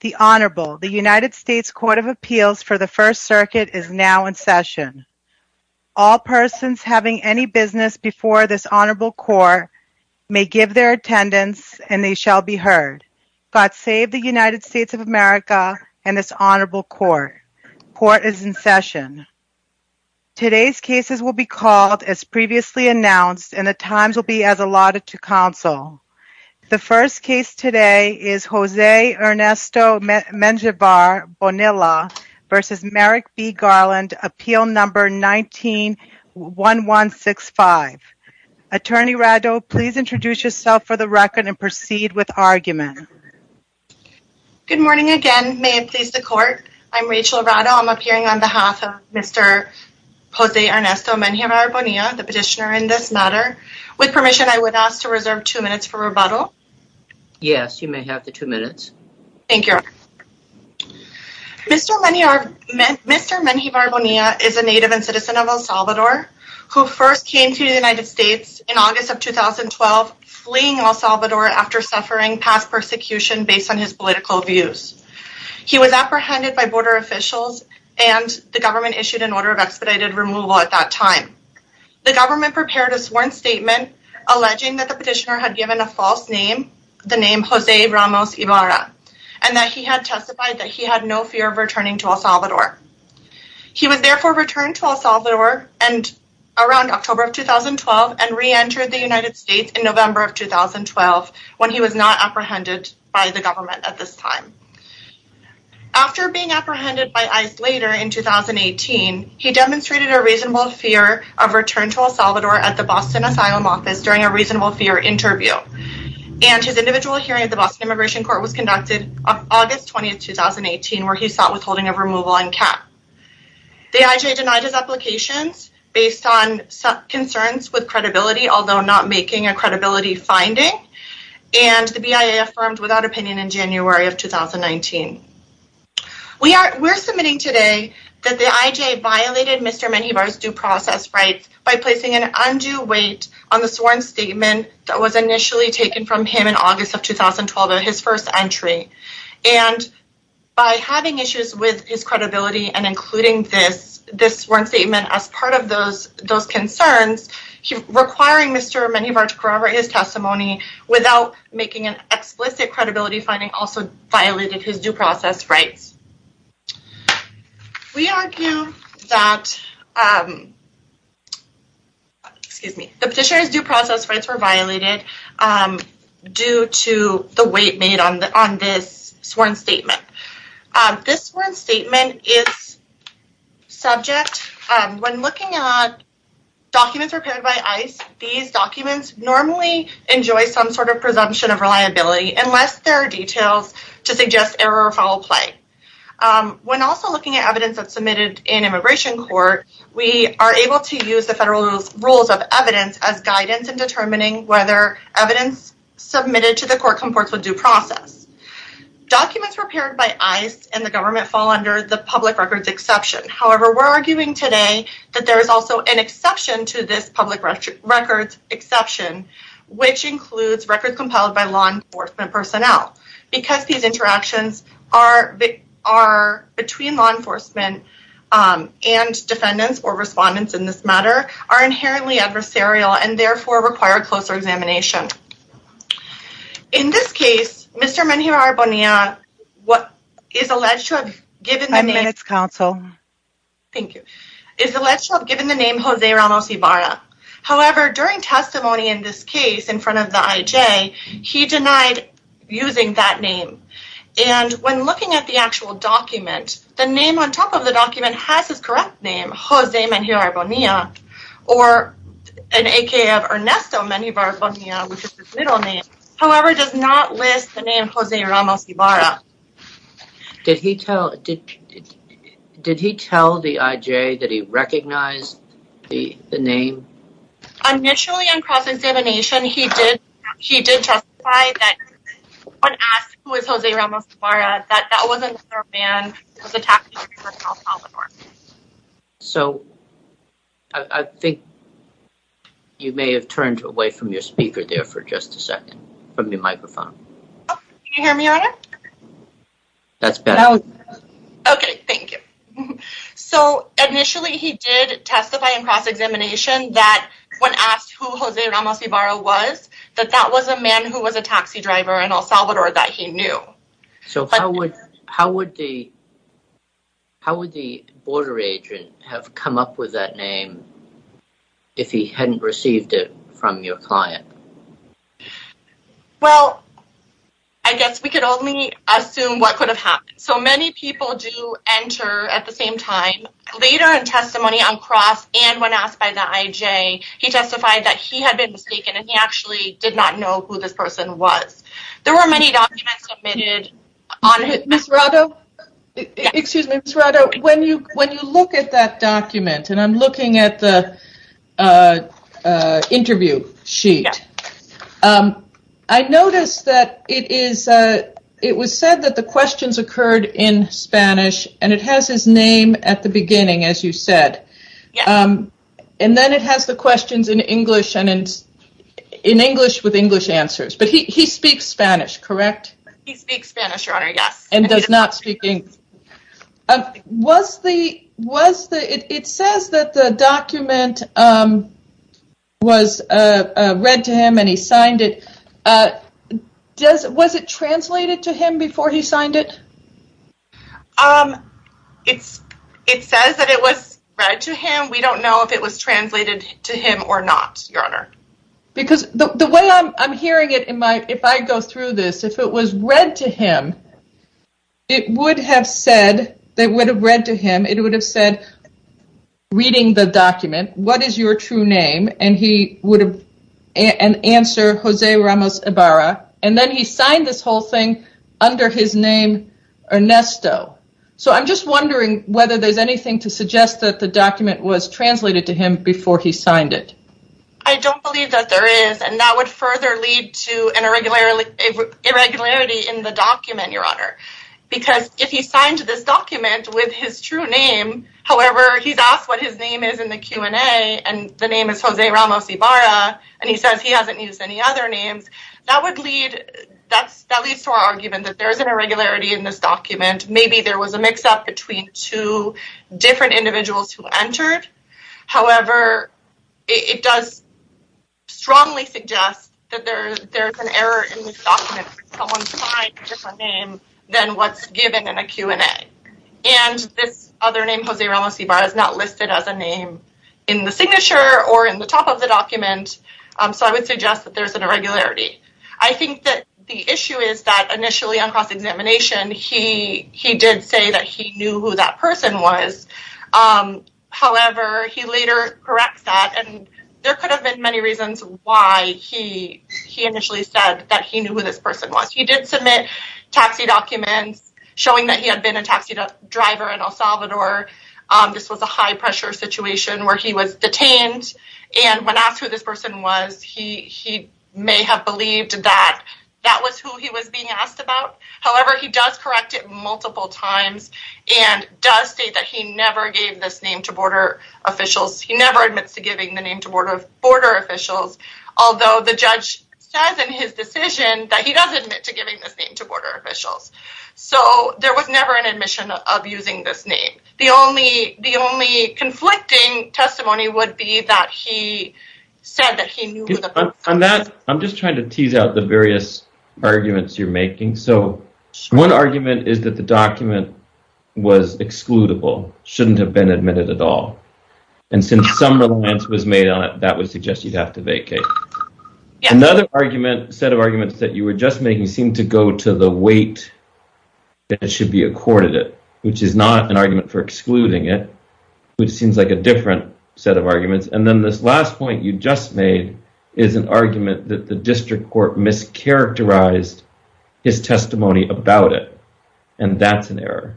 The Honorable, the United States Court of Appeals for the First Circuit is now in session. All persons having any business before this Honorable Court may give their attendance and they shall be heard. God save the United States of America and this Honorable Court. Court is in session. Today's cases will be called as previously announced and the times will be as allotted to counsel. The first case today is Jose Ernesto Menjivar Bonilla v. Merrick B. Garland, Appeal No. 19-1165. Attorney Rado, please introduce yourself for the record and proceed with argument. Good morning again. May it please the Court. I'm Rachel Rado. I'm appearing on behalf of Mr. Jose Ernesto Menjivar Bonilla, the petitioner in this matter. With permission, I would ask to reserve two minutes for rebuttal. Yes, you may have the two minutes. Thank you. Mr. Menjivar Bonilla is a native and citizen of El Salvador who first came to the United States in August of 2012, fleeing El Salvador after suffering past persecution based on his political views. He was apprehended by border officials and the government issued an order of expedited removal at that time. The government prepared a sworn statement alleging that the petitioner had given a false name, the name Jose Ramos Ibarra, and that he had testified that he had no fear of returning to El Salvador. He was therefore returned to El Salvador around October of 2012 and re-entered the United States in November of 2012 when he was not apprehended by the government at this time. After being apprehended by ICE later in 2018, he demonstrated a reasonable fear of return to El Salvador at the Boston Asylum Office during a reasonable fear interview. And his individual hearing at the Boston Immigration Court was conducted on August 20, 2018, where he sought withholding of removal and cap. The IJ denied his applications based on concerns with credibility, although not making a credibility finding. And the BIA affirmed without opinion in January of 2019. We are submitting today that the IJ violated Mr. Menjivar's due process rights by placing an undue weight on the sworn statement that was initially taken from him in August of 2012 at his first entry. And by having issues with his credibility and including this sworn statement as part of those concerns, requiring Mr. Menjivar to corroborate his testimony without making an explicit credibility finding also violated his due process rights. We argue that the petitioner's due process rights were violated due to the weight made on this sworn statement. This sworn statement is subject, when looking at documents prepared by ICE, these documents normally enjoy some sort of presumption of reliability unless there are details to suggest error or foul play. When also looking at evidence that's submitted in immigration court, we are able to use the federal rules of evidence as guidance in determining whether evidence submitted to the court comports with due process. Documents prepared by ICE and the government fall under the public records exception. However, we're arguing today that there is also an exception to this public records exception, which includes records compiled by law enforcement personnel. Because these interactions are between law enforcement and defendants or respondents in this matter, are inherently adversarial and therefore require closer examination. In this case, Mr. Menjivar-Bonilla is alleged to have given the name Jose Ramos Ibarra. However, during testimony in this case in front of the IJ, he denied using that name. And when looking at the actual document, the name on top of the document has his correct name, Jose Menjivar-Bonilla, or an AKA of Ernesto Menjivar-Bonilla, which is his middle name. However, it does not list the name Jose Ramos Ibarra. Did he tell the IJ that he recognized the name? Initially, on cross-examination, he did testify that when asked who was Jose Ramos Ibarra, that that was another man who was attacked during the trial in El Salvador. So, I think you may have turned away from your speaker there for just a second, from your microphone. Can you hear me on it? That's better. Okay, thank you. So, initially he did testify in cross-examination that when asked who Jose Ramos Ibarra was, that that was a man who was a taxi driver in El Salvador that he knew. So, how would the border agent have come up with that name if he hadn't received it from your client? Well, I guess we could only assume what could have happened. So, many people do enter at the same time. Later in testimony on cross and when asked by the IJ, he testified that he had been mistaken and he actually did not know who this person was. There were many documents submitted. Ms. Rado, when you look at that document, and I'm looking at the interview sheet, I noticed that it was said that the questions occurred in Spanish and it has his name at the beginning, as you said. And then it has the questions in English with English answers. But he speaks Spanish, correct? He speaks Spanish, Your Honor, yes. And does not speak English. It says that the document was read to him and he signed it. Was it translated to him before he signed it? It says that it was read to him. We don't know if it was translated to him or not, Your Honor. Because the way I'm hearing it, if I go through this, if it was read to him, it would have said, they would have read to him, it would have said, reading the document, what is your true name? And he would have answered, Jose Ramos Ibarra. And then he signed this whole thing under his name, Ernesto. So, I'm just wondering whether there's anything to suggest that the document was translated to him before he signed it. I don't believe that there is. And that would further lead to an irregularity in the document, Your Honor. Because if he signed this document with his true name, however, he's asked what his name is in the Q&A, and the name is Jose Ramos Ibarra, and he says he hasn't used any other names, that would lead, that leads to our argument that there is an irregularity in this document. However, it does strongly suggest that there's an error in this document where someone signed a different name than what's given in a Q&A. And this other name, Jose Ramos Ibarra, is not listed as a name in the signature or in the top of the document, so I would suggest that there's an irregularity. I think that the issue is that initially on cross-examination, he did say that he knew who that person was. However, he later corrects that, and there could have been many reasons why he initially said that he knew who this person was. He did submit taxi documents showing that he had been a taxi driver in El Salvador. This was a high-pressure situation where he was detained, and when asked who this person was, he may have believed that that was who he was being asked about. However, he does correct it multiple times, and does state that he never gave this name to border officials. He never admits to giving the name to border officials, although the judge says in his decision that he does admit to giving this name to border officials. So, there was never an admission of using this name. The only conflicting testimony would be that he said that he knew who the person was. I'm just trying to tease out the various arguments you're making. So, one argument is that the document was excludable, shouldn't have been admitted at all, and since some reliance was made on it, that would suggest you'd have to vacate. Another set of arguments that you were just making seem to go to the weight that it should be accorded it, which is not an argument for excluding it, which seems like a different set of arguments. And then this last point you just made is an argument that the district court mischaracterized his testimony about it, and that's an error.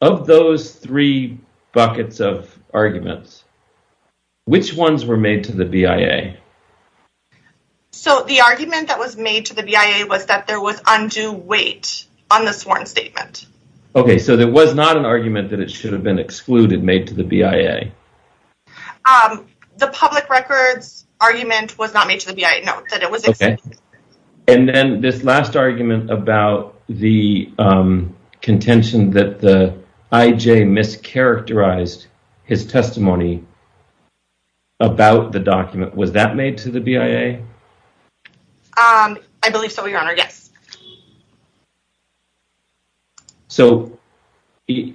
Of those three buckets of arguments, which ones were made to the BIA? So, the argument that was made to the BIA was that there was undue weight on the sworn statement. Okay, so there was not an argument that it should have been excluded made to the BIA? The public records argument was not made to the BIA, no, that it was excluded. And then this last argument about the contention that the IJ mischaracterized his testimony about the document, was that made to the BIA? I believe so, Your Honor, yes. So, just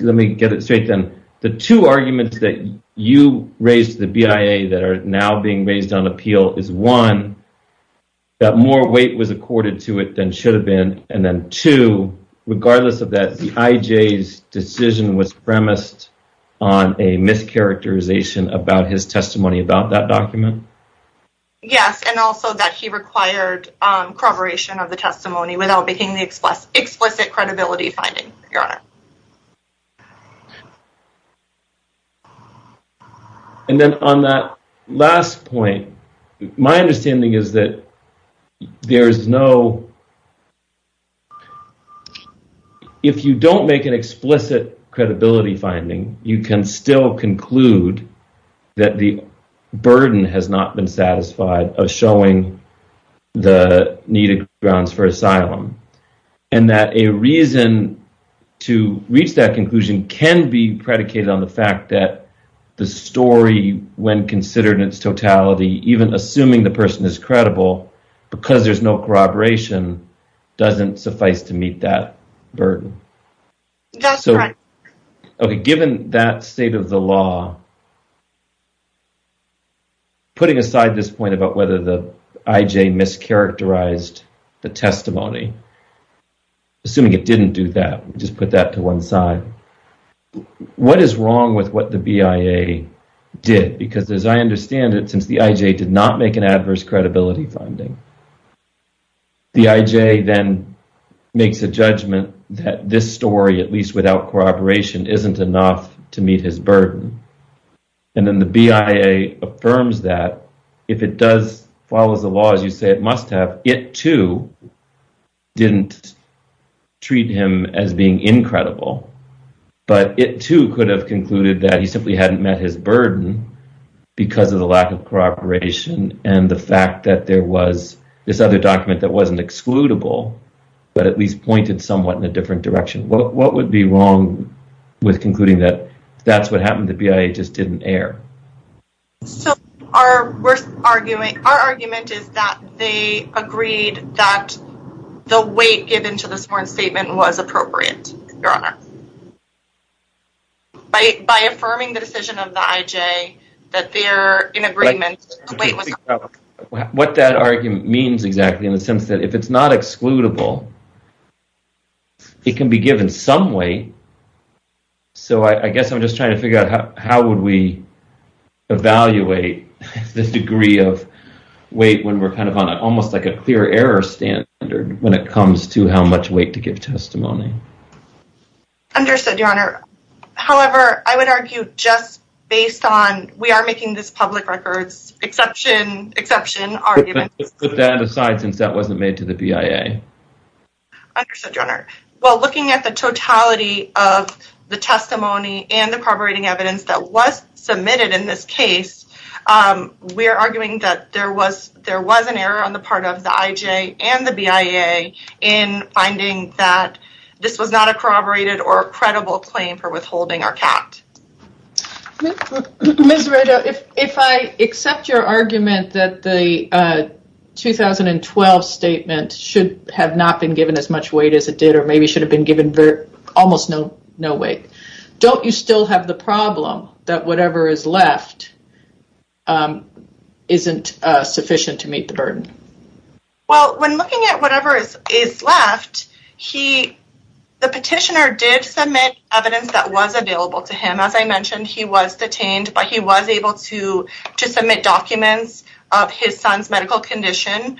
let me get it straight then. The two arguments that you raised to the BIA that are now being raised on appeal is one, that more weight was accorded to it than should have been, and then two, regardless of that, the IJ's decision was premised on a mischaracterization about his testimony about that document? Yes, and also that he required corroboration of the testimony without making the explicit credibility finding, Your Honor. And then on that last point, my understanding is that there is no... If you don't make an explicit credibility finding, you can still conclude that the burden has not been satisfied of showing the needed grounds for asylum. And that a reason to reach that conclusion can be predicated on the fact that the story, when considered in its totality, even assuming the person is credible, because there's no corroboration, doesn't suffice to meet that burden. That's correct. Okay, given that state of the law, putting aside this point about whether the IJ mischaracterized the testimony, assuming it didn't do that, just put that to one side, what is wrong with what the BIA did? Because as I understand it, since the IJ did not make an adverse credibility finding, the IJ then makes a judgment that this story, at least without corroboration, isn't enough to meet his burden. And then the BIA affirms that if it does follow the law, as you say it must have, it, too, didn't treat him as being incredible. But it, too, could have concluded that he simply hadn't met his burden because of the lack of corroboration and the fact that there was this other document that wasn't excludable, but at least pointed somewhat in a different direction. What would be wrong with concluding that that's what happened, the BIA just didn't err? So, our argument is that they agreed that the weight given to the sworn statement was appropriate, Your Honor. By affirming the decision of the IJ that they're in agreement, the weight was... What that argument means, exactly, in the sense that if it's not excludable, it can be given some weight. So, I guess I'm just trying to figure out how would we evaluate this degree of weight when we're kind of on almost like a clear error standard when it comes to how much weight to give testimony. Understood, Your Honor. However, I would argue just based on... We are making this public records exception argument. Let's put that aside since that wasn't made to the BIA. Understood, Your Honor. Well, looking at the totality of the testimony and the corroborating evidence that was submitted in this case, we're arguing that there was an error on the part of the IJ and the BIA in finding that this was not a corroborated or credible claim for withholding our cat. Ms. Rado, if I accept your argument that the 2012 statement should have not been given as much weight as it did or maybe should have been given almost no weight, don't you still have the problem that whatever is left isn't sufficient to meet the burden? Well, when looking at whatever is left, the petitioner did submit evidence that was available to him. As I mentioned, he was detained, but he was able to submit documents of his son's medical condition.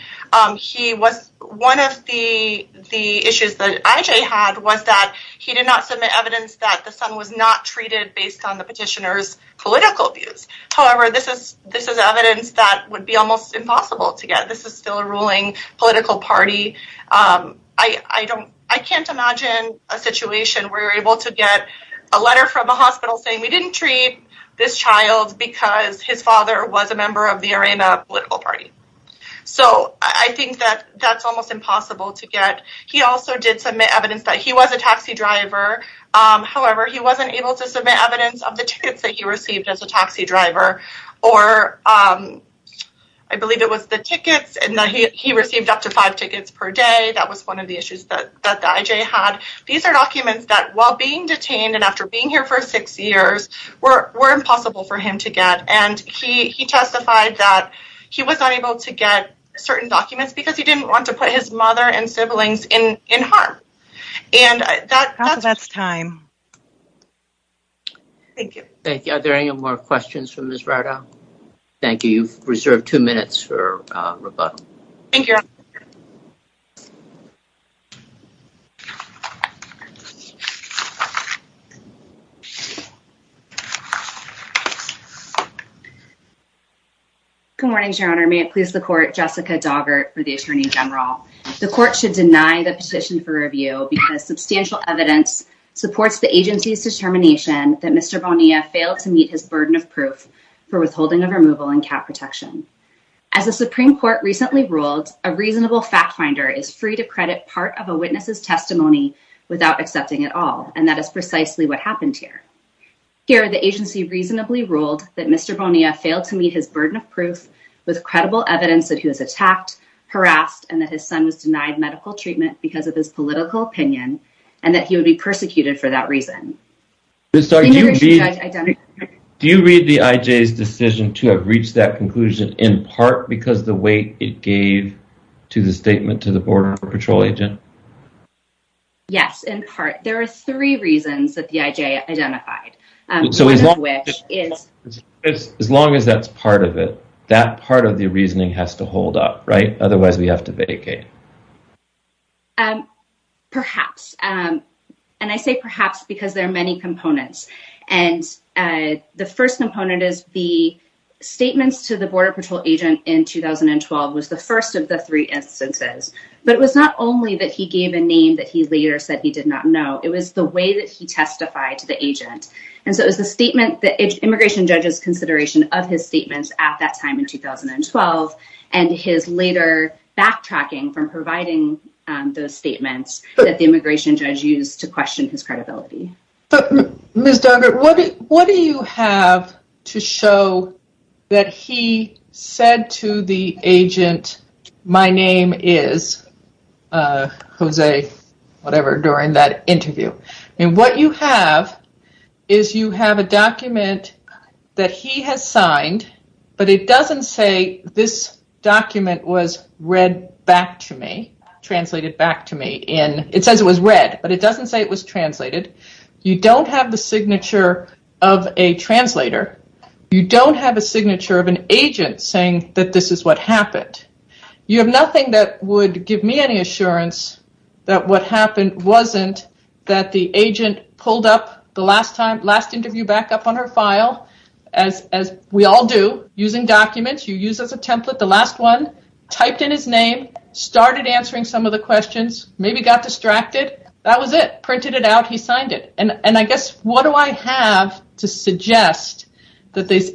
One of the issues that IJ had was that he did not submit evidence that the son was not treated based on the petitioner's political views. However, this is evidence that would be almost impossible to get. This is still a ruling political party. I can't imagine a situation where you're able to get a letter from a hospital saying we didn't treat this child because his father was a member of the Arena political party. So I think that that's almost impossible to get. He also did submit evidence that he was a taxi driver. However, he wasn't able to submit evidence of the tickets that he received as a taxi driver, or I believe it was the tickets, and that he received up to five tickets per day. That was one of the issues that the IJ had. These are documents that, while being detained and after being here for six years, were impossible for him to get. And he testified that he was unable to get certain documents because he didn't want to put his mother and siblings in harm. And that's... That's time. Thank you. Thank you. Are there any more questions for Ms. Rado? Thank you. You've reserved two minutes for rebuttal. Thank you. Good morning, Your Honor. May it please the court, Jessica Daugert for the Attorney General. The court should deny the petition for review because substantial evidence supports the agency's determination that Mr. Bonilla failed to meet his burden of proof for withholding of removal and cat protection. As the Supreme Court recently ruled, a reasonable fact finder is free to credit part of a witness's testimony without accepting it all, and that is precisely what happened here. Here, the agency reasonably ruled that Mr. Bonilla failed to meet his burden of proof with credible evidence that he was attacked, harassed, and that his son was denied medical treatment because of his political opinion, and that he would be persecuted for that reason. Ms. Rado, do you read... Do you read the IJ's decision to have reached that conclusion in part because of the weight it gave to the statement to the Border Patrol agent? Yes, in part. There are three reasons that the IJ identified. So as long as... As long as that's part of it, that part of the reasoning has to hold up, right? Otherwise, we have to vacate. Perhaps. And I say perhaps because there are many components. And the first component is the statements to the Border Patrol agent in 2012 was the first of the three instances. But it was not only that he gave a name that he later said he did not know. It was the way that he testified to the agent. And so it was the statement that... Immigration judges' consideration of his statements at that time in 2012 and his later backtracking from providing those statements that the immigration judge used to question his credibility. Ms. Duggar, what do you have to show that he said to the agent, my name is Jose whatever during that interview. And what you have is you have a document that he has signed, but it doesn't say this document was read back to me, translated back to me. It says it was read, but it doesn't say it was translated. You don't have the signature of a translator. You don't have a signature of an agent saying that this is what happened. You have nothing that would give me any assurance that what happened wasn't that the agent pulled up the last interview back up on her file, as we all do, using documents you use as a template. The last one, typed in his name, started answering some of the questions, maybe got distracted. That was it. Printed it out. He signed it. And I guess, what do I have to suggest that there's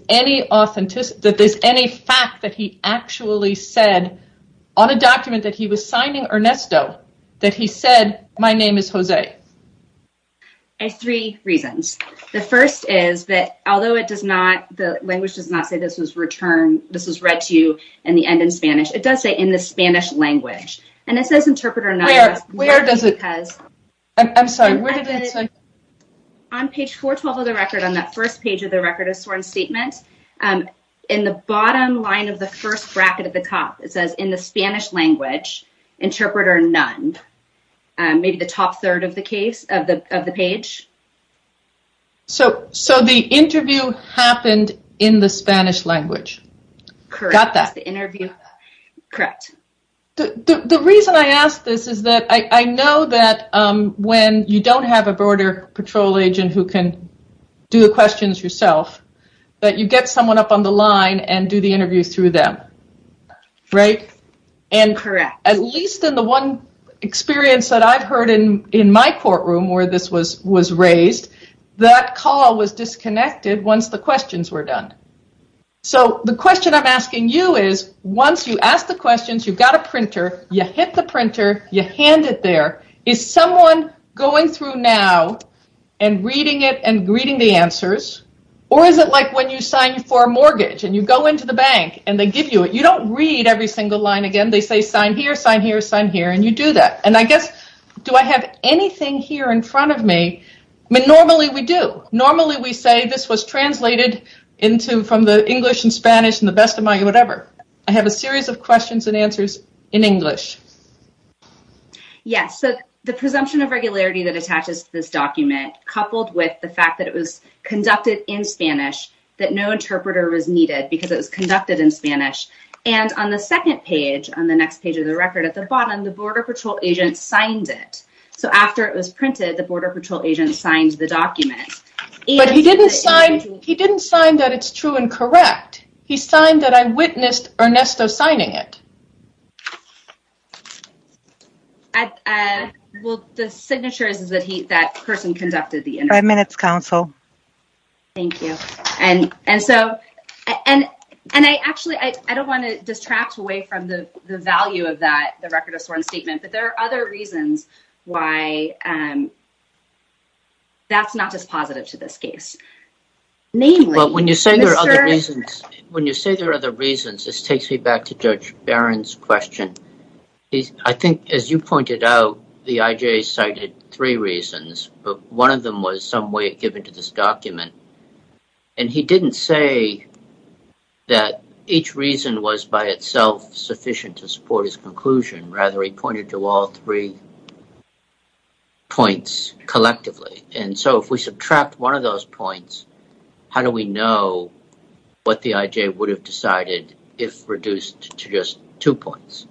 any fact that he actually said on a document that he was signing Ernesto that he said, my name is Jose? I have three reasons. The first is that although the language does not say this was returned, this was read to you in the end in Spanish, it does say in the Spanish language. And it says interpreter none. I'm sorry, where did it say? On page 412 of the record, on that first page of the record of sworn statement, in the bottom line of the first bracket at the top, it says in the Spanish language, interpreter none. Maybe the top third of the page. So, the interview happened in the Spanish language. Correct. Got that. Correct. The reason I ask this is that I know that when you don't have a border patrol agent who can do the questions yourself, that you get someone up on the line and do the interview through them. Correct. At least in the one experience that I've heard in my courtroom where this was raised, that call was disconnected once the questions were done. So, the question I'm asking you is, once you ask the questions, you've got a printer, you hit the printer, you hand it there, is someone going through now and reading it and reading the answers? Or is it like when you sign for a mortgage and you go into the bank and they give you it? You don't read every single line again. They say sign here, sign here, sign here, and you do that. And I guess, do I have anything here in front of me? I mean, normally we do. Normally we say this was translated into, from the English and Spanish and the best of my whatever. I have a series of questions and answers in English. Yes. So, the presumption of regularity that attaches to this document, coupled with the fact that it was conducted in Spanish, that no interpreter was needed because it was conducted in Spanish. And on the second page, on the next page of the record at the bottom, the border patrol agent signed it. So, after it was printed, the border patrol agent signed the document. But he didn't sign that it's true and correct. He signed that I witnessed Ernesto signing it. Well, the signature is that that person conducted the interview. Five minutes, counsel. Thank you. And so, and I actually, I don't want to distract away from the value of that, the record of sworn statement. But there are other reasons why that's not just positive to them. In this case. Well, when you say there are other reasons, when you say there are other reasons, this takes me back to Judge Barron's question. I think, as you pointed out, the IJ cited three reasons. But one of them was some way given to this document. And he didn't say that each reason was by itself sufficient to support his conclusion. Rather, he pointed to all three points collectively. And so, if we subtract one of those points, how do we know what the IJ would have decided if reduced to just two points?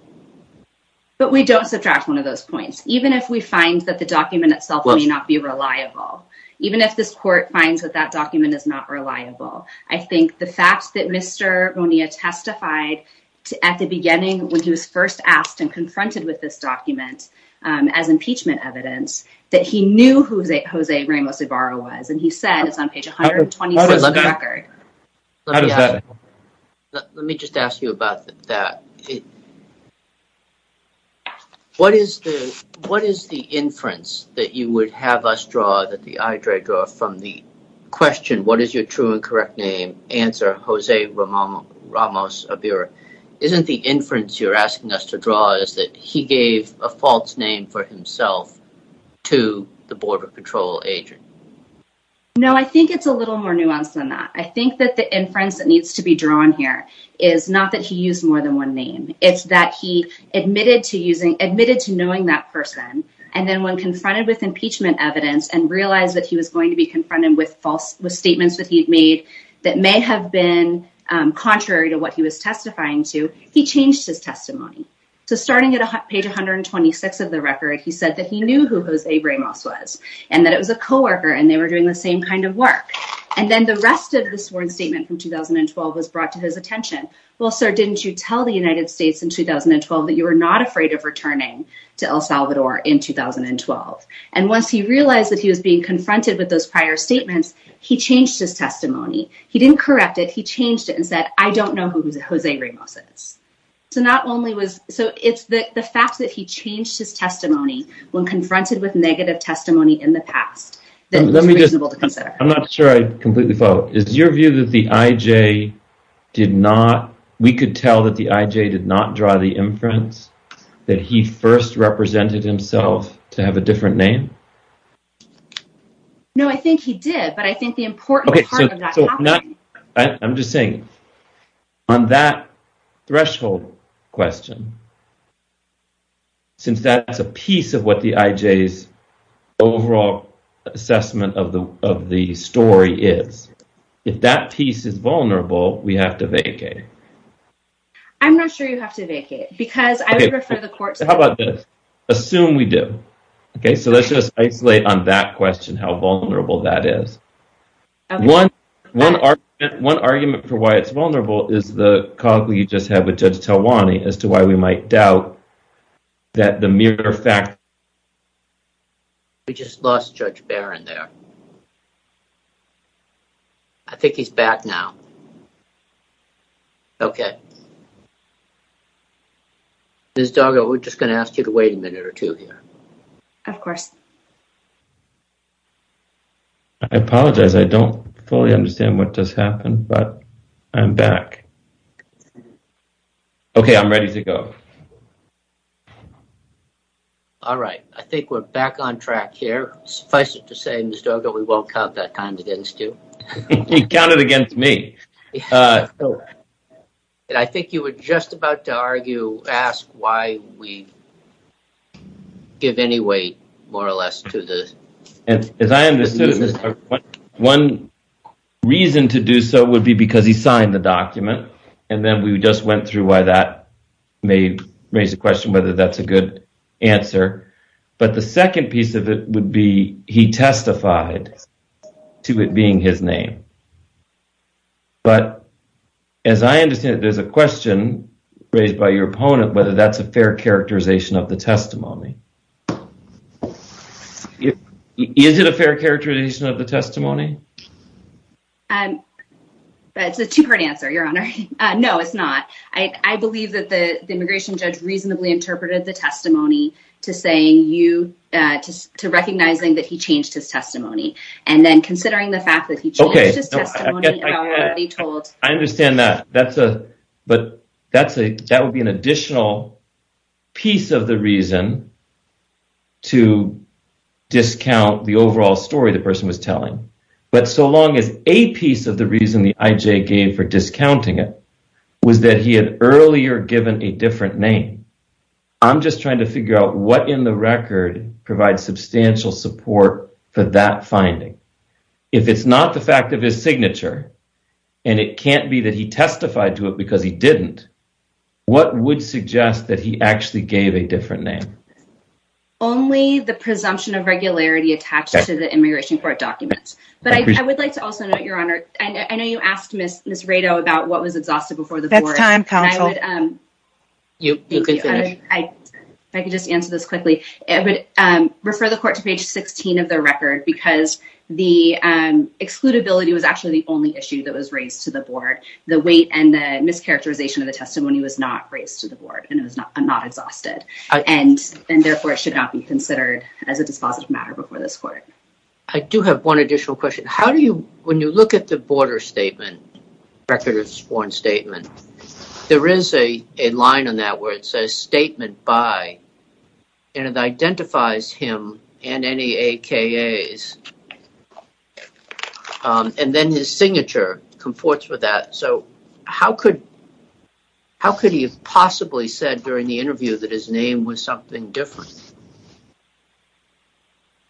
But we don't subtract one of those points. Even if we find that the document itself may not be reliable. Even if this court finds that that document is not reliable. I think the fact that Mr. Bonilla testified at the beginning, when he was first asked and confronted with this document as impeachment evidence, that he knew who Jose Ramos Ibarra was. And he said, it's on page 126 of the record. Let me just ask you about that. What is the inference that you would have us draw, that the IJ draw from the question, what is your true and correct name? Answer, Jose Ramos Ibarra. Isn't the inference you're asking us to draw is that he gave a false name for himself to the border control agent? No, I think it's a little more nuanced than that. I think that the inference that needs to be drawn here is not that he used more than one name. It's that he admitted to knowing that person. And then when confronted with impeachment evidence and realized that he was going to be confronted with false statements that he had made that may have been contrary to what he was testifying to, he changed his testimony. So, starting at page 126 of the record, he said that he knew who Jose Ramos was and that it was a coworker and they were doing the same kind of work. And then the rest of the sworn statement from 2012 was brought to his attention. Well, sir, didn't you tell the United States in 2012 that you were not afraid of returning to El Salvador in 2012? And once he realized that he was being confronted with those prior statements, he changed his testimony. He didn't correct it. He changed it and said, I don't know who Jose Ramos is. So, it's the fact that he changed his testimony when confronted with negative testimony in the past that is reasonable to consider. I'm not sure I completely follow. Is your view that the I.J. did not, we could tell that the I.J. did not draw the inference that he first represented himself to have a different name? No, I think he did. But I think the important part of that... I'm just saying, on that threshold question, since that's a piece of what the I.J.'s overall assessment of the story is, if that piece is vulnerable, we have to vacate. I'm not sure you have to vacate, because I would refer the court to... How about this? Assume we do. Okay, so let's just isolate on that question how vulnerable that is. One argument for why it's vulnerable is the call that we just had with Judge Talwani as to why we might doubt that the mere fact... We just lost Judge Barron there. I think he's back now. Okay. Ms. Doggo, we're just going to ask you to wait a minute or two here. Of course. I apologize. I don't fully understand what just happened, but I'm back. Okay, I'm ready to go. All right. I think we're back on track here. Suffice it to say, Ms. Doggo, we won't count that time against you. He counted against me. I think you were just about to argue, ask why we give any weight more or less to the... As I understood, one reason to do so would be because he signed the document, and then we just went through why that may raise the question whether that's a good answer. But the second piece of it would be he testified to it being his name. But as I understand it, there's a question raised by your opponent whether that's a fair characterization of the testimony. Is it a fair characterization of the testimony? That's a two-part answer, Your Honor. No, it's not. I believe that the immigration judge reasonably interpreted the testimony to recognizing that he changed his testimony, and then considering the fact that he changed his testimony... I understand that. But that would be an additional piece of the reason to discount the overall story the person was telling. But so long as a piece of the reason the IJ gave for discounting it was that he had earlier given a different name, I'm just trying to figure out what in the record provides substantial support for that finding. If it's not the fact of his signature, and it can't be that he testified to it because he didn't, what would suggest that he gave a different name? Only the presumption of regularity attached to the immigration court documents. But I would like to also note, Your Honor, I know you asked Ms. Rado about what was exhausted before the board. That's time, counsel. You can finish. If I could just answer this quickly. I would refer the court to page 16 of the record because the excludability was actually the only issue that was raised to the board. The weight and the mischaracterization of the testimony was not raised to the board and therefore should not be considered as a dispositive matter before this court. I do have one additional question. How do you, when you look at the border statement, record of sworn statement, there is a line on that where it says statement by and it identifies him and any AKAs. And then his signature conforts with that. So how could, how could he have possibly said during the interview that his name was something different?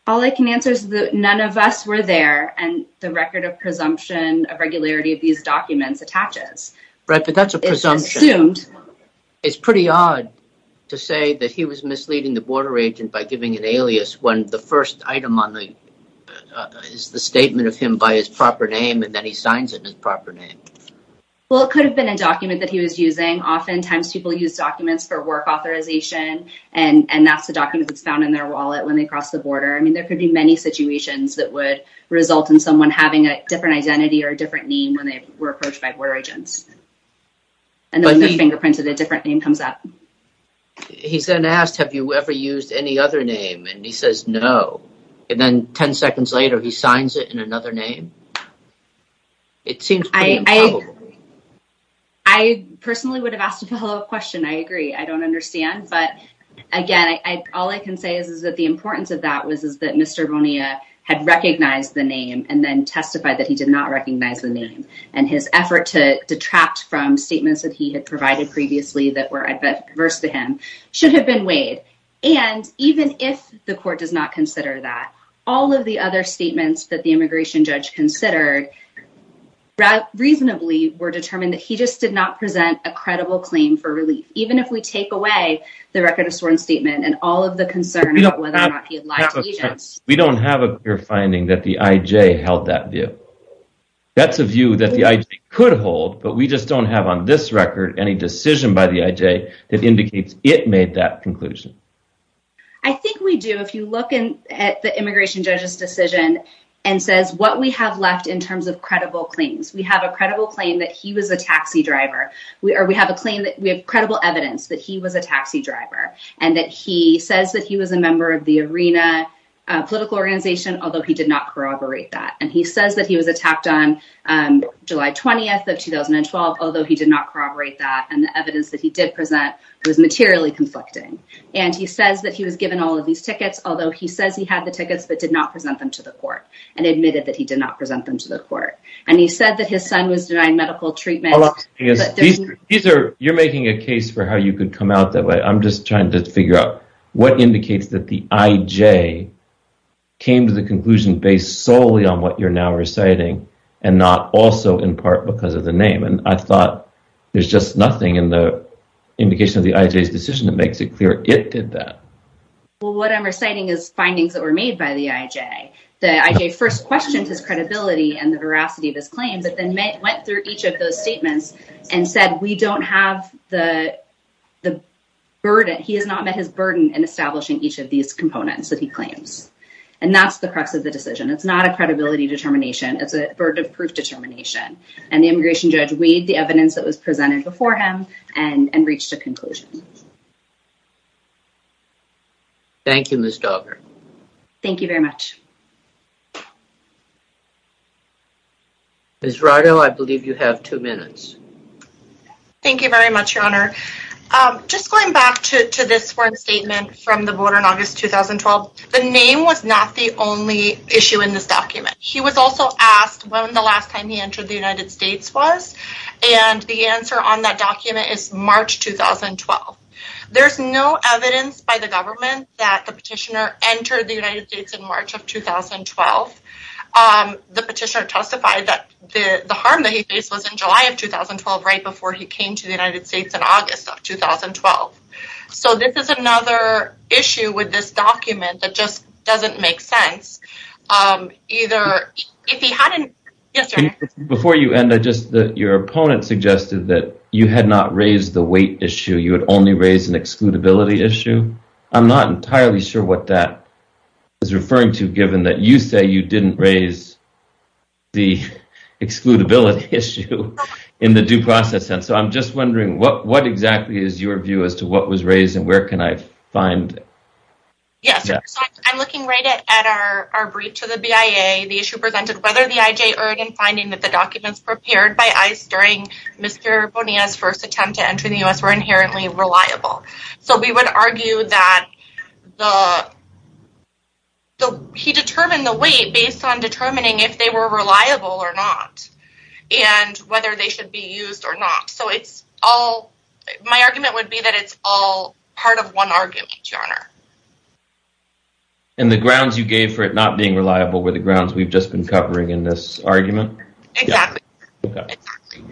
All I can answer is that none of us were there and the record of presumption of regularity of these documents attaches. Right, but that's a presumption. It's pretty odd to say that he was misleading the border agent by giving an alias when the first item on the, is the statement of him by his proper name and then he signs it in his proper name. Well, it could have been a document that he was using. Oftentimes people use documents for work authorization and that's the document that's found in their wallet when they cross the border. I mean, there could be many situations that would result in someone having a different identity or a different name when they were approached by border agents. And then when they're fingerprinted, a different name comes up. He's then asked, have you ever used any other name? And he says no. And then 10 seconds later, he signs it in another name. It seems pretty improbable. I personally would have asked a follow up question. I agree. I don't understand. But again, all I can say is is that the importance of that was that Mr. Bonilla had recognized the name and then testified that he did not recognize the name. And his effort to detract from statements that he had provided previously that were adverse to him should have been weighed. And even if the court does not consider that, all of the other statements that the immigration judge considered reasonably were determined that he just did not present a credible claim for relief. Even if we take away the record of sworn statement and all of the concern about whether or not he had lied to agents. We don't have a clear finding that the IJ held that view. That's a view that the IJ could hold, but we just don't have on this record any decision by the IJ that indicates it made that conclusion. I think we do. If you look at the immigration judge's decision and says what we have left in terms of credible claims, we have a credible claim that he was a taxi driver. We have a claim that we have credible evidence that he was a taxi driver and that he says that he was a member of the ARENA political organization, although he did not corroborate that. And he says that he was attacked on July 20th of 2012, although he did not corroborate that. And the evidence that he did present was materially conflicting. And he says that he was given all of these tickets, although he says he had the tickets but did not present them to the court and admitted that he did not present them to the court. And he said that his son was denied medical treatment. Hold on. You're making a case for how you could come out that way. I'm just trying to figure out what indicates that the IJ came to the conclusion based solely on what you're now reciting and not also in part because of the name. And I thought there's just nothing in the indication of the IJ's decision that makes it clear it did that. Well, what I'm reciting is findings that were made by the IJ. The IJ first questioned his credibility and the veracity of his claims but then went through each of those statements and said we don't have the burden. He has not met his burden in establishing each of these components that he claims. And that's the crux of the decision. It's not a credibility determination. It's a burden of proof determination. And the immigration judge weighed the evidence that was presented before him and reached a conclusion. Thank you, Ms. Dogger. Thank you very much. Ms. Rado, I believe you have two minutes. Thank you very much, Your Honor. Just going back to this one statement from the voter in August 2012, the name was not the only issue in this document. He was also asked when the last time the United States was and the answer on that document is March 2012. There's no evidence by the government that the petitioner entered the United States in March of 2012. The petitioner testified that the harm that he faced was in July of 2012 right before he came to the United States in August of 2012. So this is another issue with this document that just doesn't make sense. Before you end, your opponent suggested that you had not raised the weight issue. You had only raised an excludability issue. I'm not entirely sure what that is referring to given that you say you didn't raise the excludability issue in the due process sense. So I'm just wondering what exactly is your view as to what was raised and where can I find that? Yes. I'm looking right at our brief to the BIA. The issue presented whether the IJ earned in finding that the documents prepared by ICE during Mr. Bonilla's first attempt to enter the U.S. were inherently reliable. So we would argue that he determined the weight based on determining if they were reliable or not and whether they should be used or not. So it's all... My argument would be that it's all part of one argument, Your Honor. And the grounds you gave for it not being reliable were the grounds we've just been covering in this argument? Exactly. Okay. Exactly.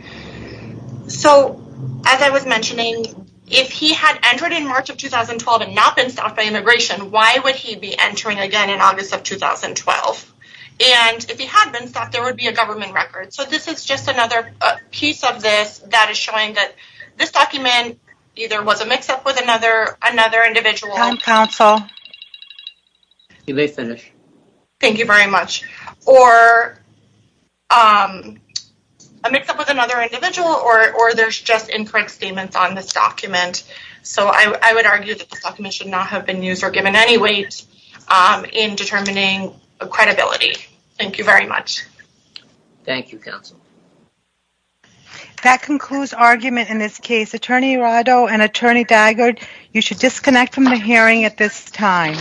So as I was mentioning, if he had entered in March of 2012 and not been stopped by immigration, why would he be entering again in August of 2012? And if he had been stopped, there would be a government record. So this is just another piece of this that is showing that this document either was a mix-up with another individual... Time, counsel. You may finish. Thank you very much. Or a mix-up with another individual or there's just incorrect statements on this document. So I would argue that this document should not have been used or given any weight in determining credibility. Thank you very much. Thank you, counsel. That concludes argument in this case. Attorney Arado and Attorney Daggard, you should disconnect from the hearing at this time.